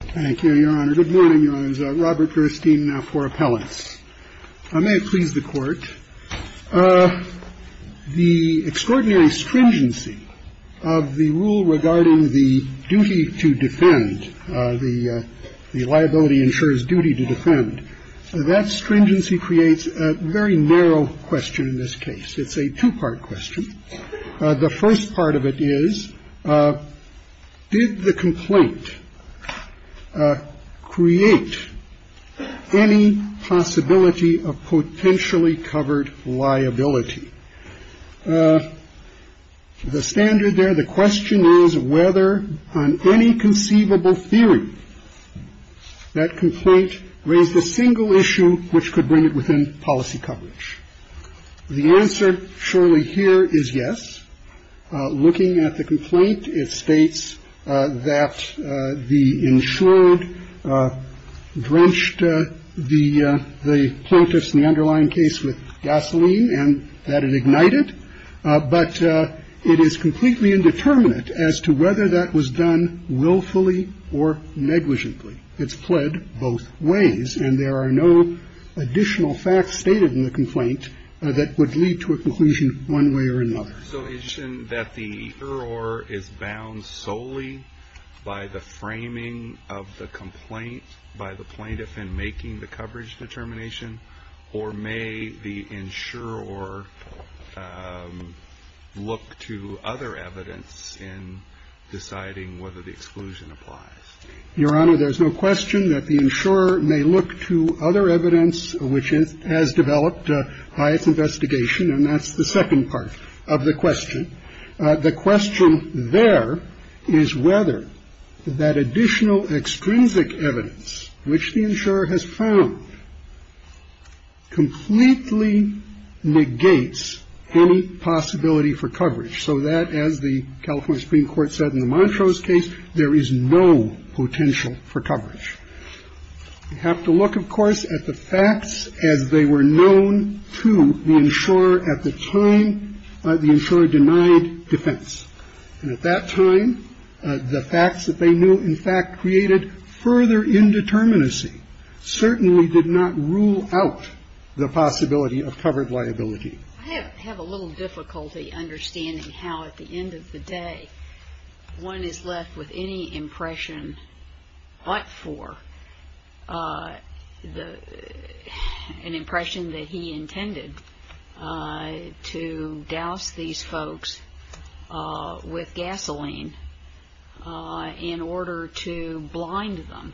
Thank you, Your Honor. Good morning, Your Honors. Robert Gerstein, now for appellants. May it please the Court, the extraordinary stringency of the rule regarding the duty to defend, the liability ensures duty to defend, that stringency creates a very narrow question in this case. It's a two-part question. The first part of it is, did the complaint create any possibility of potentially covered liability? The standard there, the question is whether on any conceivable theory, that complaint raised a single issue which could bring it within policy coverage. The answer, surely, here is yes. Looking at the complaint, it states that the insured drenched the plaintiffs in the underlying case with gasoline and that it ignited, but it is completely indeterminate as to whether that was done willfully or negligently. It's pled both ways, and there are no additional facts stated in the complaint that would lead to a conclusion one way or another. So is it that the either or is bound solely by the framing of the complaint by the plaintiff in making the coverage determination, or may the insurer or look to other evidence in deciding whether the exclusion applies? Your Honor, there's no question that the insurer may look to other evidence which has developed by its investigation, and that's the second part of the question. The question there is whether that additional extrinsic evidence, which the insurer has found, completely negates any possibility for coverage. So that, as the California Supreme Court said in the Montrose case, there is no potential for coverage. You have to look, of course, at the facts as they were known to the insurer at the time the insurer denied defense. And at that time, the facts that they knew, in fact, created further indeterminacy, certainly did not rule out the possibility of covered liability. I have a little difficulty understanding how, at the end of the day, one is left with any impression but for an impression that he intended to douse these folks with gasoline in order to blind them.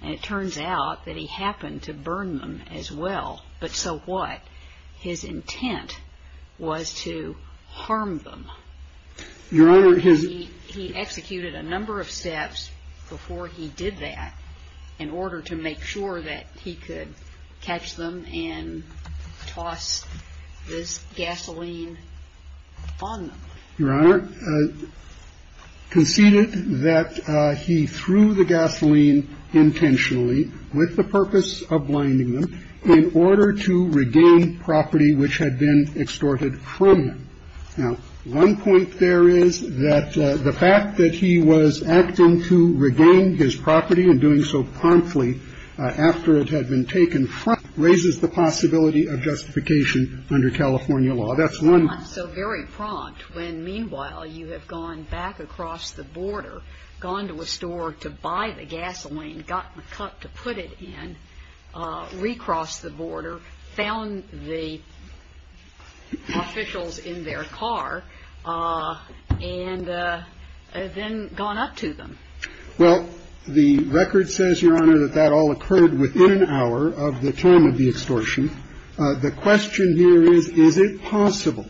And it turns out that he happened to burn them as well. But so what? His intent was to harm them. Your Honor, he executed a number of steps before he did that in order to make sure that he could catch them and toss this gasoline on them. Your Honor, conceded that he threw the gasoline intentionally, with the purpose of blinding them, in order to regain property which had been extorted from him. Now, one point there is that the fact that he was acting to regain his property and doing so promptly after it had been taken from him raises the possibility of justification under California law. That's one- I'm so very prompt when, meanwhile, you have gone back across the border, gone to a store to buy the gasoline, got the cup to put it in, recrossed the border, found the officials in their car, and then gone up to them. Well, the record says, Your Honor, that that all occurred within an hour of the time of the extortion. The question here is, is it possible?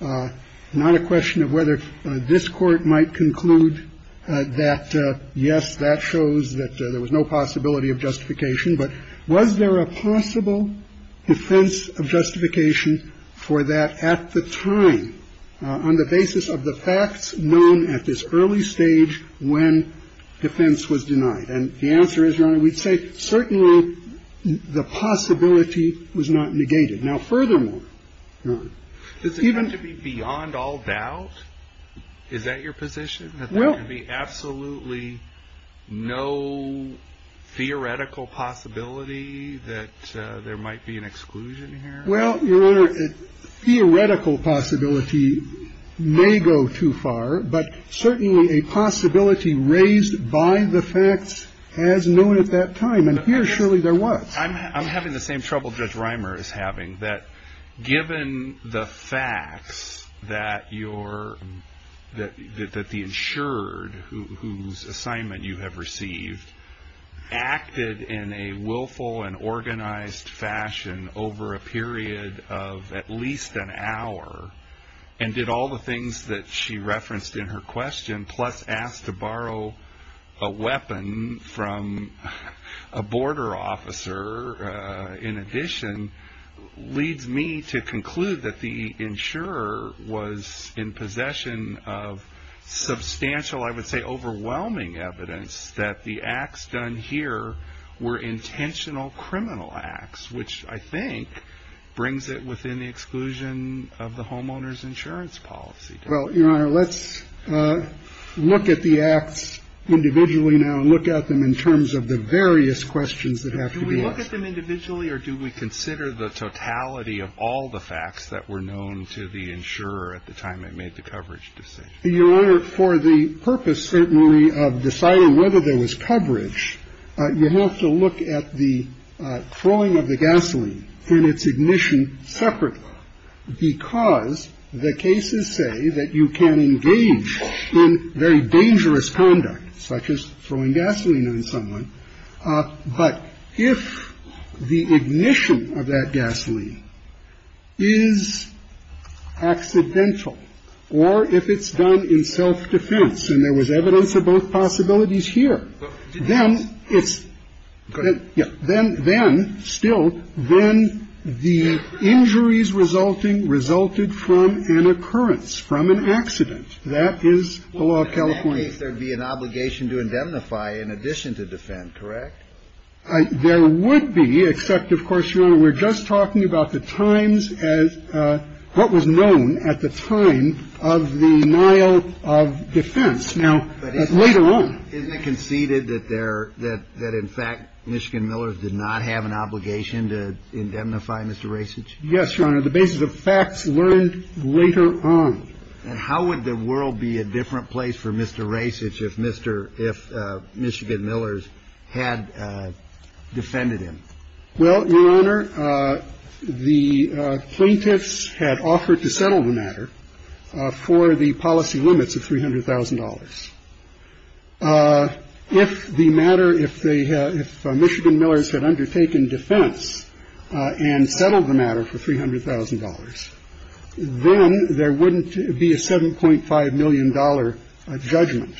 Not a question of whether this Court might conclude that, yes, that shows that there was no possibility of justification. But was there a possible defense of justification for that at the time, on the basis of the facts known at this early stage when defense was denied? And the answer is, Your Honor, we'd say certainly the possibility was not negated. Now, furthermore, Your Honor, even- Does it have to be beyond all doubt? Is that your position, that there can be absolutely no theoretical possibility that there might be an exclusion here? Well, Your Honor, a theoretical possibility may go too far. But certainly a possibility raised by the facts as known at that time, and here, surely, there was. I'm having the same trouble Judge Reimer is having, that given the facts that the insured, whose assignment you have received, acted in a willful and organized fashion over a period of at least an hour, and did all the things that she referenced in her question, plus asked to borrow a weapon from a border officer, in addition, leads me to conclude that the insurer was in possession of substantial, I would say overwhelming evidence that the acts done here were intentional criminal acts, which I think brings it within the exclusion of the homeowner's insurance policy. Well, Your Honor, let's look at the acts individually now, and look at them in terms of the various questions that have to be asked. Do we look at them individually, or do we consider the totality of all the facts that were known to the insurer at the time it made the coverage decision? Your Honor, for the purpose, certainly, of deciding whether there was coverage, you have to look at the throwing of the gasoline and its ignition separately, because the cases say that you can engage in very dangerous conduct, such as throwing gasoline on someone. But if the ignition of that gasoline is accidental, or if it's done in self-defense, and there was evidence of both possibilities here, then it's, then, still, then the injuries resulting resulted from an occurrence, from an accident. That is the law of California. In that case, there'd be an obligation to indemnify in addition to defend, correct? There would be, except, of course, Your Honor, we're just talking about the times as, what was known at the time of the Nile of defense. Now, later on. Isn't it conceded that there, that, in fact, Michigan Millers did not have an obligation to indemnify Mr. Rasich? Yes, Your Honor, the basis of facts learned later on. And how would the world be a different place for Mr. Rasich if Mr., if Michigan Millers had defended him? Well, Your Honor, the plaintiffs had offered to settle the matter for the policy limits of $300,000. If the matter, if they had, if Michigan Millers had undertaken defense and settled the matter for $300,000, then there wouldn't be a $7.5 million judgment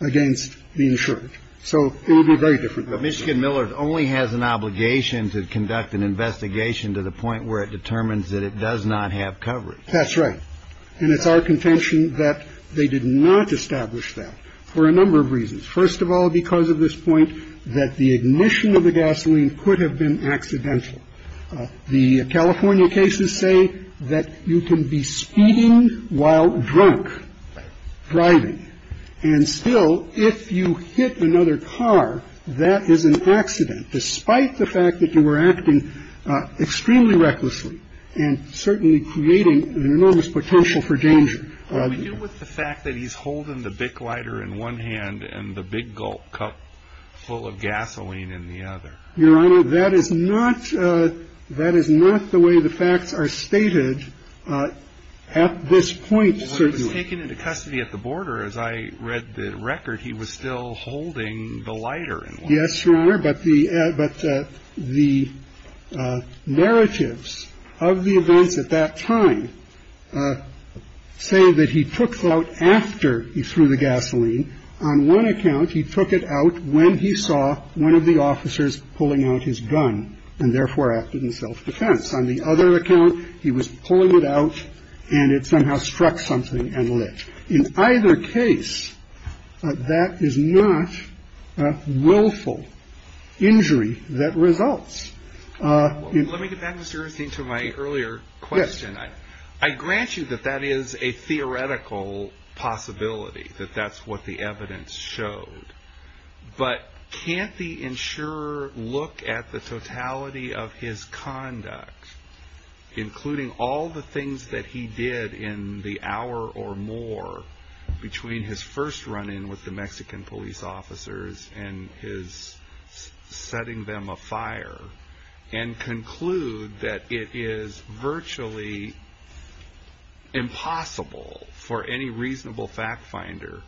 against the insurance. So it would be very different. But Michigan Millers only has an obligation to conduct an investigation to the point where it determines that it does not have coverage. That's right. And it's our contention that they did not establish that for a number of reasons. First of all, because of this point that the ignition of the gasoline could have been accidental. The California cases say that you can be speeding while drunk, driving. And still, if you hit another car, that is an accident. Despite the fact that you were acting extremely recklessly and certainly creating an enormous potential for danger. With the fact that he's holding the big lighter in one hand and the big gulp cup full of gasoline in the other. Your Honor, that is not that is not the way the facts are stated at this point. Certainly taken into custody at the border. As I read the record, he was still holding the lighter. Yes, Your Honor. But the but the narratives of the events at that time say that he took out after he threw the gasoline. On one account, he took it out when he saw one of the officers pulling out his gun and therefore acted in self-defense. On the other account, he was pulling it out and it somehow struck something and lit. In either case, that is not a willful injury that results. Let me get back to my earlier question. I grant you that that is a theoretical possibility that that's what the evidence showed. But can't the insurer look at the totality of his conduct, including all the things that he did in the hour or more between his first run in with the Mexican police officers and his setting them afire and conclude that it is virtually impossible for any reasonable fact finder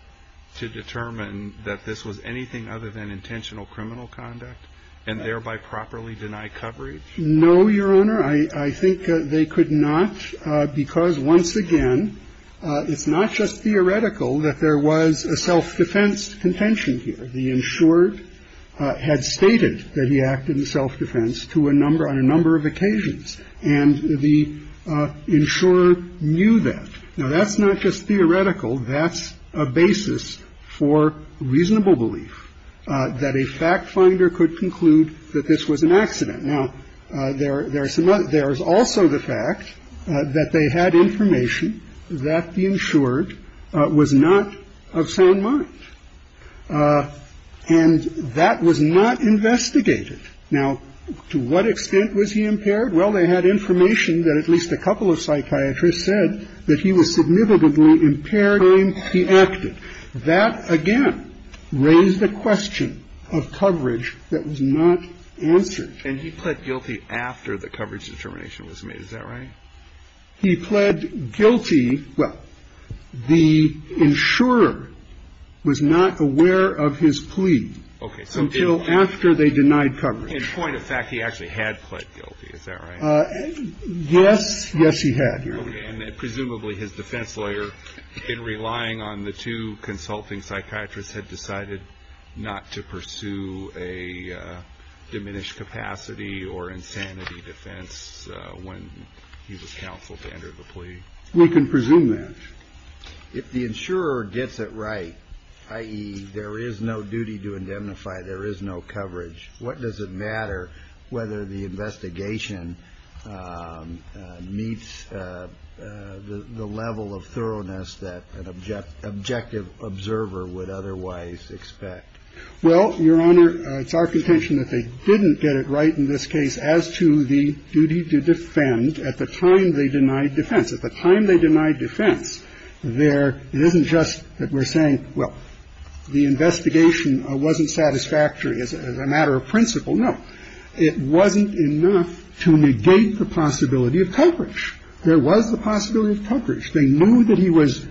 to determine that this was anything other than intentional criminal conduct and thereby properly deny coverage? No, Your Honor, I think they could not, because once again, it's not just theoretical that there was a self-defense contention here. The insured had stated that he acted in self-defense to a number on a number of occasions and the insurer knew that. Now, that's not just theoretical. That's a basis for reasonable belief that a fact finder could conclude that this was an accident. Now, there are some others. There is also the fact that they had information that the insured was not of sound mind and that was not investigated. Now, to what extent was he impaired? Well, they had information that at least a couple of psychiatrists said that he was significantly impaired in how he acted. That, again, raised the question of coverage that was not answered. And he pled guilty after the coverage determination was made. Is that right? He pled guilty. Well, the insurer was not aware of his plea until after they denied coverage. In point of fact, he actually had pled guilty. Is that right? Yes. Yes, he had. And presumably his defense lawyer, in relying on the two consulting psychiatrists, had decided not to pursue a diminished capacity or insanity defense when he was counseled to enter the plea. We can presume that if the insurer gets it right, i.e. there is no duty to indemnify, there is no coverage, what does it matter whether the investigation meets the level of thoroughness that an objective observer would otherwise expect? Well, Your Honor, it's our contention that they didn't get it right in this case as to the duty to defend at the time they denied defense. At the time they denied defense, there isn't just that we're saying, well, the investigation wasn't satisfactory as a matter of principle. No, it wasn't enough to negate the possibility of coverage. There was the possibility of coverage. They knew that he was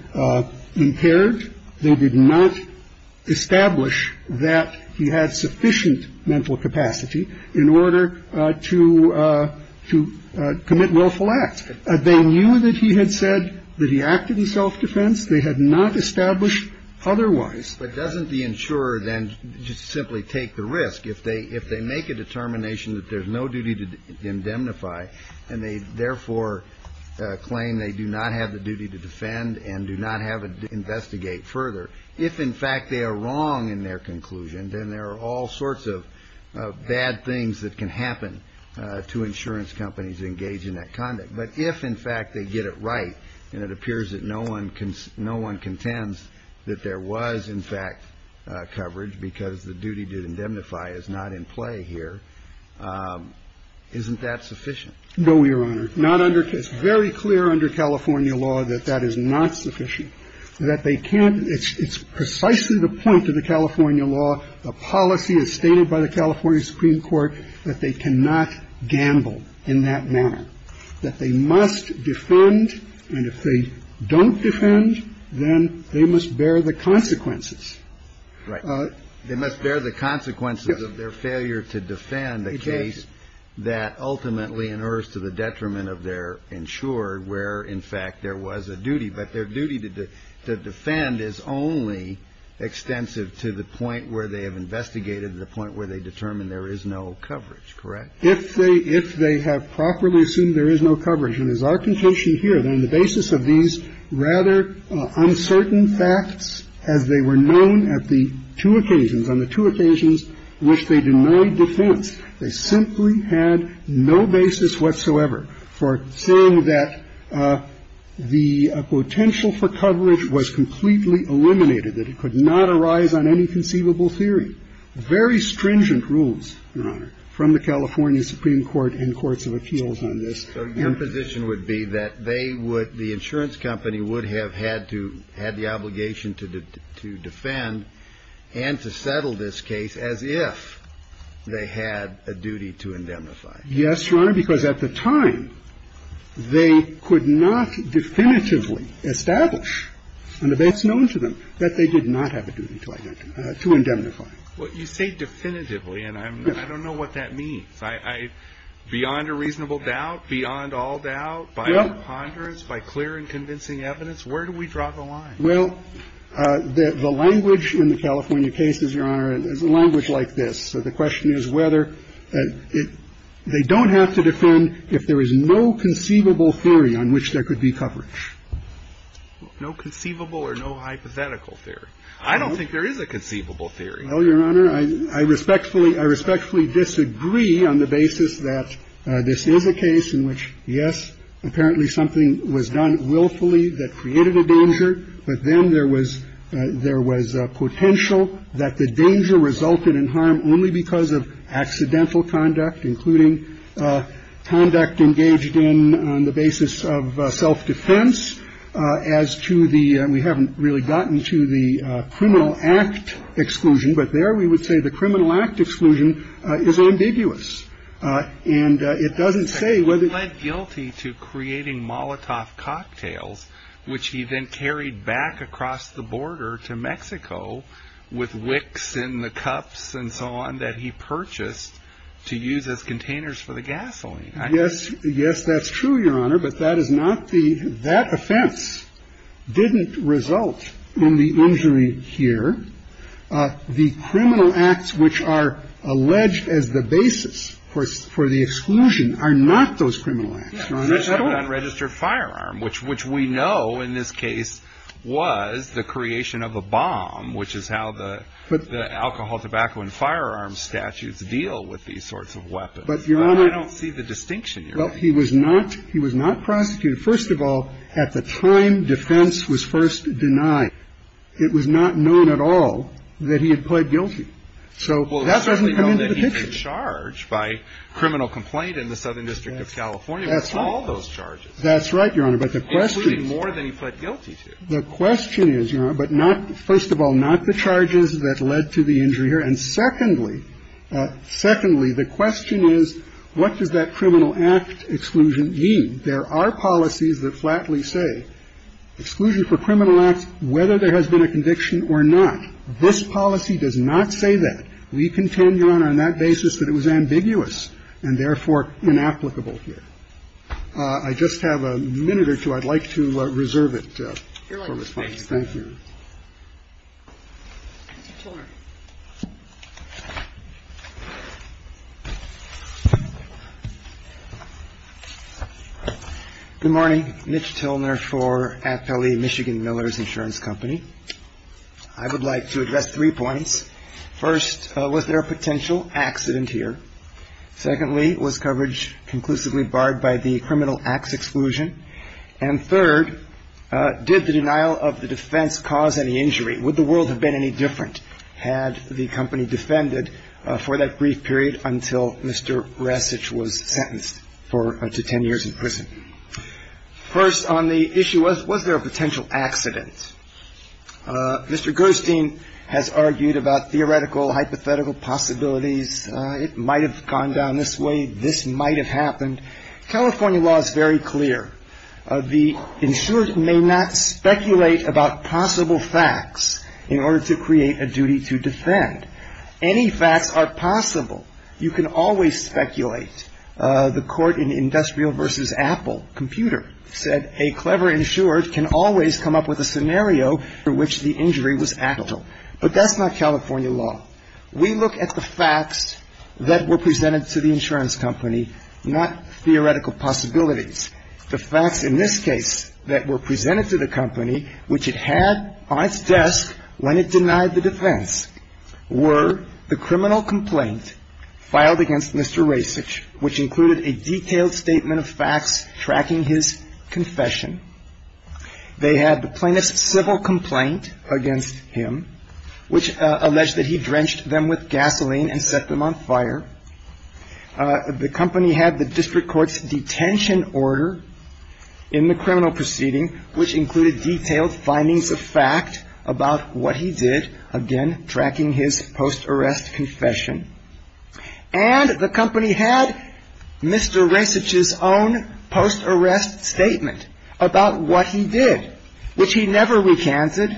impaired. They did not establish that he had sufficient mental capacity in order to to commit willful acts. They knew that he had said that he acted in self-defense. They had not established otherwise. But doesn't the insurer then just simply take the risk? If they make a determination that there's no duty to indemnify, and they therefore claim they do not have the duty to defend and do not have a duty to investigate further, if in fact they are wrong in their conclusion, then there are all sorts of bad things that can happen to insurance companies engaged in that conduct. But if in fact they get it right, and it appears that no one can no one contends that there was in fact coverage because the duty to indemnify is not in play here, isn't that sufficient? No, Your Honor. Not under it's very clear under California law that that is not sufficient, that they can't. It's precisely the point of the California law. The policy is stated by the California Supreme Court that they cannot gamble in that manner, that they must defend. And if they don't defend, then they must bear the consequences. Right. They must bear the consequences of their failure to defend a case that ultimately inerts to the detriment of their insurer, where in fact there was a duty. But their duty to defend is only extensive to the point where they have investigated, to the point where they determine there is no coverage, correct? If they have properly assumed there is no coverage, and as our conclusion here, on the basis of these rather uncertain facts, as they were known at the two occasions, on the two occasions which they denied defense, they simply had no basis whatsoever for saying that the potential for coverage was completely eliminated, that it could not arise on any conceivable theory. Very stringent rules, Your Honor, from the California Supreme Court and courts of appeals on this. So your position would be that they would, the insurance company would have had to had the obligation to defend and to settle this case as if they had a duty to indemnify. Yes, Your Honor. Because at the time, they could not definitively establish on the basis known to them that they did not have a duty to indemnify. Well, you say definitively, and I don't know what that means. I, beyond a reasonable doubt, beyond all doubt, by our ponderance, by clear and convincing evidence, where do we draw the line? Well, the language in the California case is, Your Honor, is a language like this. So the question is whether it they don't have to defend if there is no conceivable theory on which there could be coverage. No conceivable or no hypothetical theory. I don't think there is a conceivable theory. Well, Your Honor, I respectfully, I respectfully disagree on the basis that this is a case in which, yes, apparently something was done willfully that created a danger, but then there was there was potential that the danger resulted in harm only because of accidental conduct, including conduct engaged in on the basis of self-defense as to the we haven't really gotten to the criminal act exclusion. But there we would say the criminal act exclusion is ambiguous and it doesn't say whether guilty to creating Molotov cocktails, which he then carried back across the border to Mexico with wicks in the cups and so on that he purchased to use as containers for the gasoline. Yes. Yes, that's true, Your Honor. But that is not the that offense didn't result in the injury here. The criminal acts which are alleged as the basis for for the exclusion are not those criminal acts, Your Honor. Unregistered firearm, which which we know in this case was the creation of a bomb, which is how the the alcohol, tobacco and firearms statutes deal with these sorts of weapons. But Your Honor, I don't see the distinction. Well, he was not he was not prosecuted. First of all, at the time defense was first denied, it was not known at all that he had pled guilty. So that doesn't come into the picture. And he was not charged by criminal complaint in the Southern District of California with all those charges. That's right, Your Honor. But the question is more than he pled guilty to. The question is, Your Honor, but not first of all, not the charges that led to the injury here. And secondly, secondly, the question is, what does that criminal act exclusion mean? There are policies that flatly say exclusion for criminal acts, whether there has been a conviction or not. This policy does not say that. We contend, Your Honor, on that basis that it was ambiguous and therefore inapplicable here. I just have a minute or two. I'd like to reserve it for response. Thank you. Good morning. Mitch Tilner for Appellee Michigan Miller's Insurance Company. I would like to address three points. First, was there a potential accident here? Secondly, was coverage conclusively barred by the criminal acts exclusion? And third, did the denial of the defense cause any injury? Would the world have been any different had the company defended for that brief period until Mr. Resich was sentenced for to 10 years in prison? First on the issue, was there a potential accident? Mr. Gerstein has argued about theoretical, hypothetical possibilities. It might have gone down this way. This might have happened. California law is very clear. The insured may not speculate about possible facts in order to create a duty to defend. Any facts are possible. You can always speculate. The court in Industrial v. Computer said a clever insured can always come up with a scenario for which the injury was actual. But that's not California law. We look at the facts that were presented to the insurance company, not theoretical possibilities. The facts in this case that were presented to the company, which it had on its desk when it denied the defense, were the criminal complaint filed against Mr. Resich, which included a detailed statement of facts tracking his confession. They had the plaintiff's civil complaint against him, which alleged that he drenched them with gasoline and set them on fire. The company had the district court's detention order in the criminal proceeding, which included detailed findings of fact about what he did. Again, tracking his post-arrest confession. And the company had Mr. Resich's own post-arrest statement about what he did, which he never recanted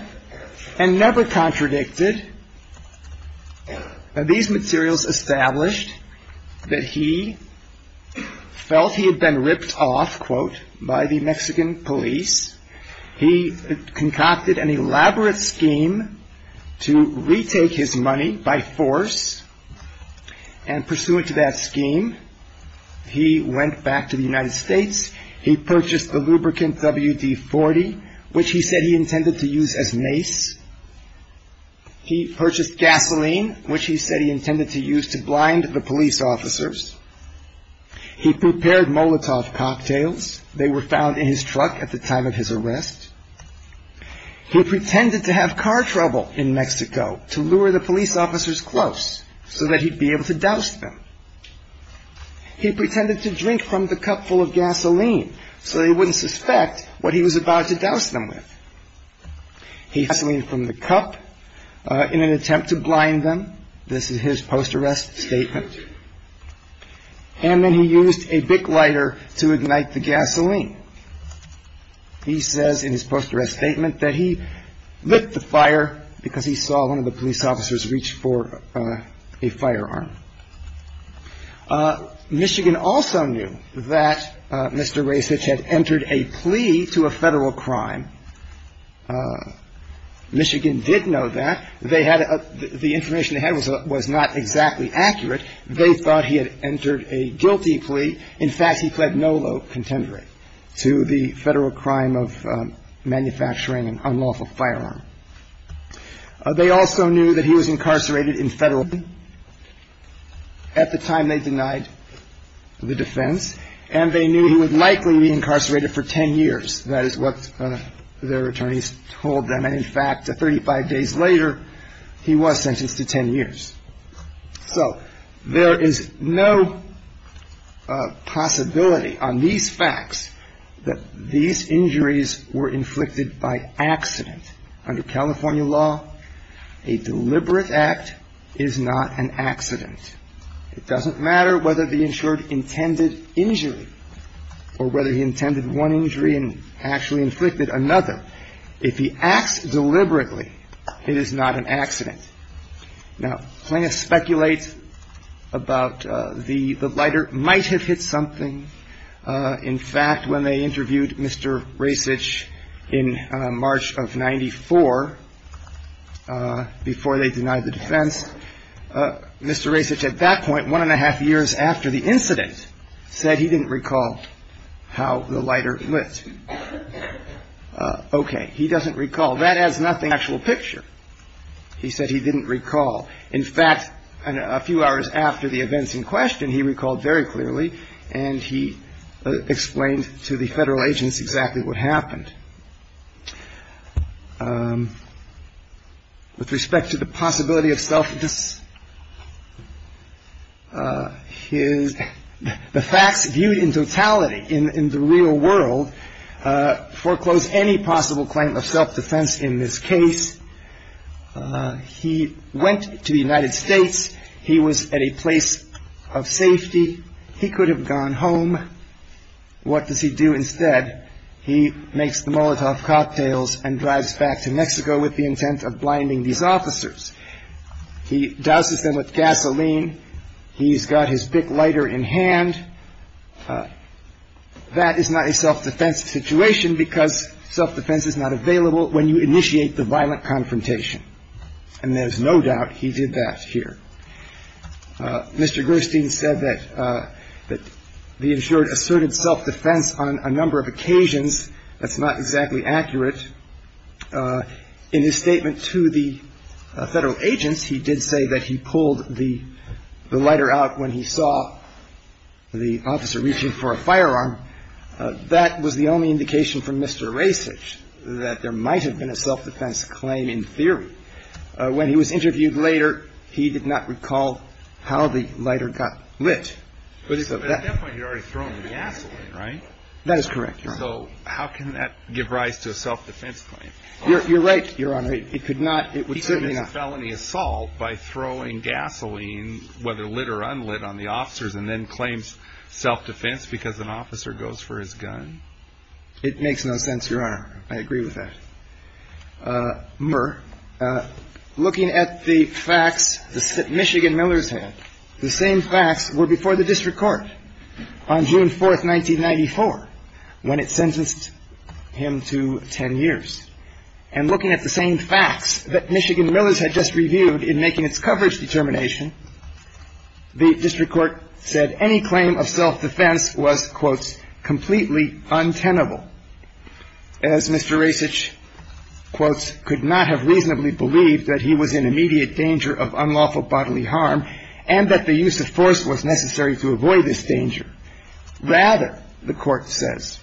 and never contradicted. These materials established that he felt he had been ripped off, quote, by the Mexican police. He concocted an elaborate scheme to retake his money by force. And pursuant to that scheme, he went back to the United States. He purchased the lubricant WD-40, which he said he intended to use as mace. He purchased gasoline, which he said he intended to use to blind the police officers. He prepared Molotov cocktails. They were found in his truck at the time of his arrest. He pretended to have car trouble in Mexico to lure the police officers close, so that he'd be able to douse them. He pretended to drink from the cup full of gasoline, so they wouldn't suspect what he was about to douse them with. He had gasoline from the cup in an attempt to blind them. This is his post-arrest statement. And then he used a Bic lighter to ignite the gasoline. He says in his post-arrest statement that he lit the fire because he saw one of the police officers reach for a firearm. Michigan also knew that Mr. Raycich had entered a plea to a federal crime. Michigan did know that. The information they had was not exactly accurate. They thought he had entered a guilty plea. In fact, he pled no low contender to the federal crime of manufacturing an unlawful firearm. They also knew that he was incarcerated in federal prison. At the time, they denied the defense. And they knew he would likely be incarcerated for ten years. That is what their attorneys told them. And in fact, 35 days later, he was sentenced to ten years. So there is no possibility on these facts that these injuries were inflicted by accident. Under California law, a deliberate act is not an accident. It doesn't matter whether the insurer intended injury or whether he intended one injury and actually inflicted another. If he acts deliberately, it is not an accident. Now, plaintiffs speculate about the lighter might have hit something. In fact, when they interviewed Mr. Raycich in March of 94, before they denied the defense, Mr. Raycich at that point, one and a half years after the incident, said he didn't recall how the lighter lit. Okay, he doesn't recall. That has nothing to do with the actual picture. He said he didn't recall. In fact, a few hours after the events in question, he recalled very clearly, and he explained to the federal agents exactly what happened. With respect to the possibility of self-defense, the facts viewed in totality in the real world foreclose any possible claim of self-defense in this case. He went to the United States. He was at a place of safety. He could have gone home. What does he do instead? He makes the Molotov cocktails and drives back to Mexico with the intent of blinding these officers. He douses them with gasoline. He's got his BIC lighter in hand. That is not a self-defense situation because self-defense is not available when you initiate the violent confrontation. And there's no doubt he did that here. Mr. Gerstein said that the insured asserted self-defense on a number of occasions, that's not exactly accurate. But in his statement to the federal agents, he did say that he pulled the lighter out when he saw the officer reaching for a firearm. That was the only indication from Mr. Rasich that there might have been a self-defense claim in theory. When he was interviewed later, he did not recall how the lighter got lit. But at that point, he had already thrown the gasoline, right? That is correct, Your Honor. So how can that give rise to a self-defense claim? You're right, Your Honor. It could not. It would certainly not. He committed felony assault by throwing gasoline, whether lit or unlit, on the officers and then claims self-defense because an officer goes for his gun? It makes no sense, Your Honor. I agree with that. Murr, looking at the facts that Michigan Millers had, the same facts were before the district court on June 4th, 1994. When it sentenced him to ten years. And looking at the same facts that Michigan Millers had just reviewed in making its coverage determination, the district court said any claim of self-defense was, quote, completely untenable, as Mr. Rasich, quote, could not have reasonably believed that he was in immediate danger of unlawful bodily harm and that the use of force was necessary to avoid this danger. Rather, the court says,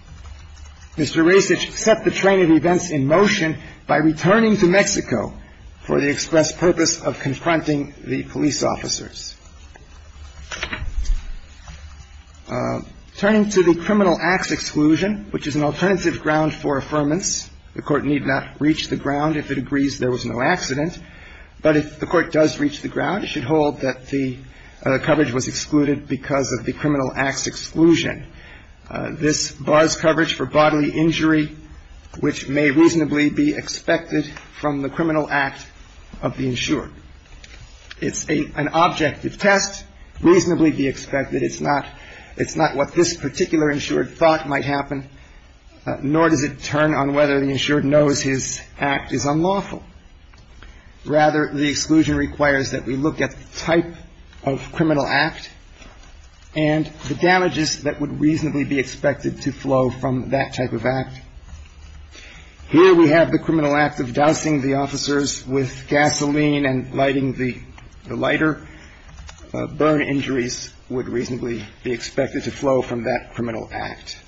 Mr. Rasich set the train of events in motion by returning to Mexico for the express purpose of confronting the police officers. Turning to the criminal acts exclusion, which is an alternative ground for affirmance, the court need not reach the ground if it agrees there was no accident. But if the court does reach the ground, it should hold that the coverage was excluded because of the criminal acts exclusion. This bars coverage for bodily injury, which may reasonably be expected from the criminal act of the insured. It's an objective test, reasonably be expected. It's not what this particular insured thought might happen, nor does it turn on whether the insured knows his act is unlawful. Rather, the exclusion requires that we look at the type of criminal act and the damages that would reasonably be expected to flow from that type of act. Here we have the criminal act of dousing the officers with gasoline and lighting the lighter. Burn injuries would reasonably be expected to flow from that criminal act.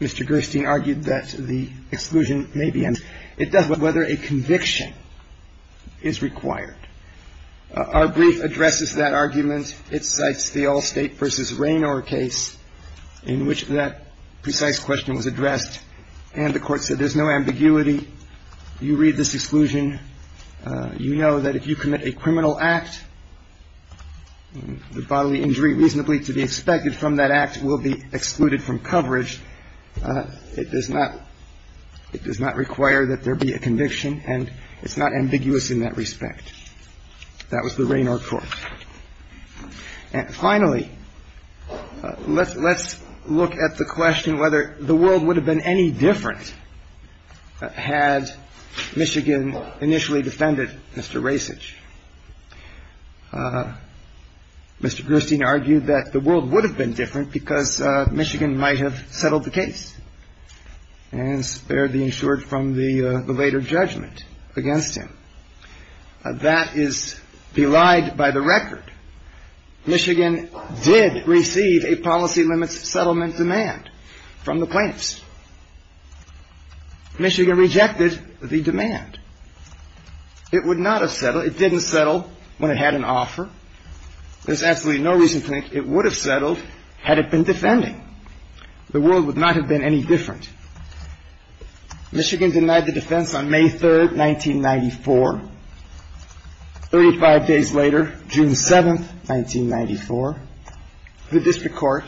Mr. Gerstein argued that the exclusion may be, and it does not matter whether a conviction is required. Our brief addresses that argument, it cites the Allstate versus Raynor case in which that precise question was addressed, and the court said there's no ambiguity. You read this exclusion, you know that if you commit a criminal act, then that act will be excluded from coverage. It does not require that there be a conviction, and it's not ambiguous in that respect. That was the Raynor court. And finally, let's look at the question whether the world would have been any different had Michigan initially defended Mr. Rasich. Mr. Gerstein argued that the world would have been different because Michigan might have settled the case and spared the insured from the later judgment against him. That is belied by the record. Michigan did receive a policy limits settlement demand from the plaintiffs. Michigan rejected the demand. It would not have settled, it didn't settle when it had an offer. There's absolutely no reason to think it would have settled had it been defending. The world would not have been any different. Michigan denied the defense on May 3rd, 1994. 35 days later, June 7th, 1994, the district court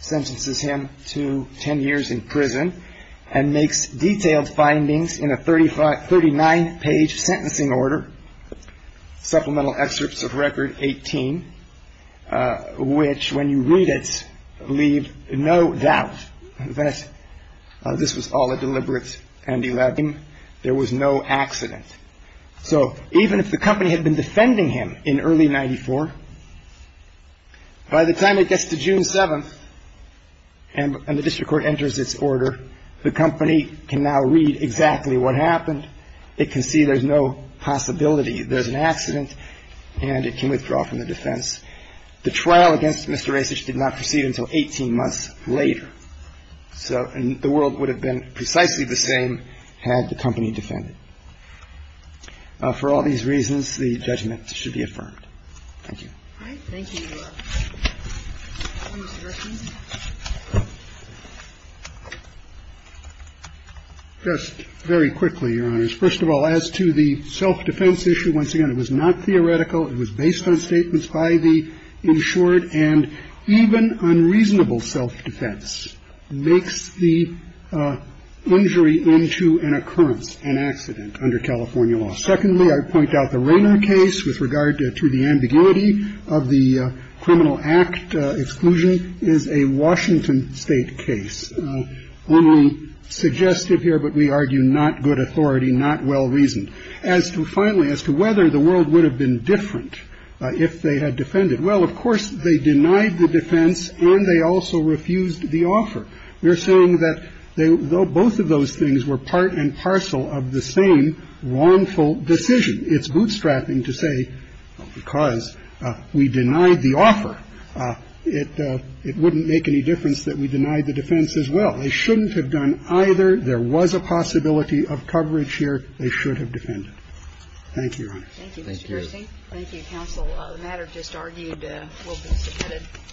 sentences him to 10 years in prison, and makes detailed findings in a 39-page sentencing order, supplemental excerpts of record 18, which when you read it, leave no doubt that this was all a deliberate and there was no accident. So even if the company had been defending him in early 94, by the time it gets to June 7th, and the district court enters its order, the company can now read exactly what happened. It can see there's no possibility there's an accident, and it can withdraw from the defense. The trial against Mr. Rasich did not proceed until 18 months later. So the world would have been precisely the same had the company defended. For all these reasons, the judgment should be affirmed. Thank you. All right. Thank you, Your Honor. Just very quickly, Your Honors. First of all, as to the self-defense issue, once again, it was not theoretical. It was based on statements by the insured. And even unreasonable self-defense makes the injury into an occurrence, an accident, under California law. Secondly, I point out the Rayner case with regard to the ambiguity of the criminal act exclusion is a Washington state case. Only suggestive here, but we argue not good authority, not well-reasoned. As to finally, as to whether the world would have been different if they had defended. Well, of course, they denied the defense, and they also refused the offer. We're saying that both of those things were part and So it's a reasonable decision. It's bootstrapping to say because we denied the offer, it wouldn't make any difference that we denied the defense as well. They shouldn't have done either. There was a possibility of coverage here. They should have defended. Thank you, Your Honor. Thank you, Mr. Gerstein. Thank you, counsel. The matter just argued will be submitted.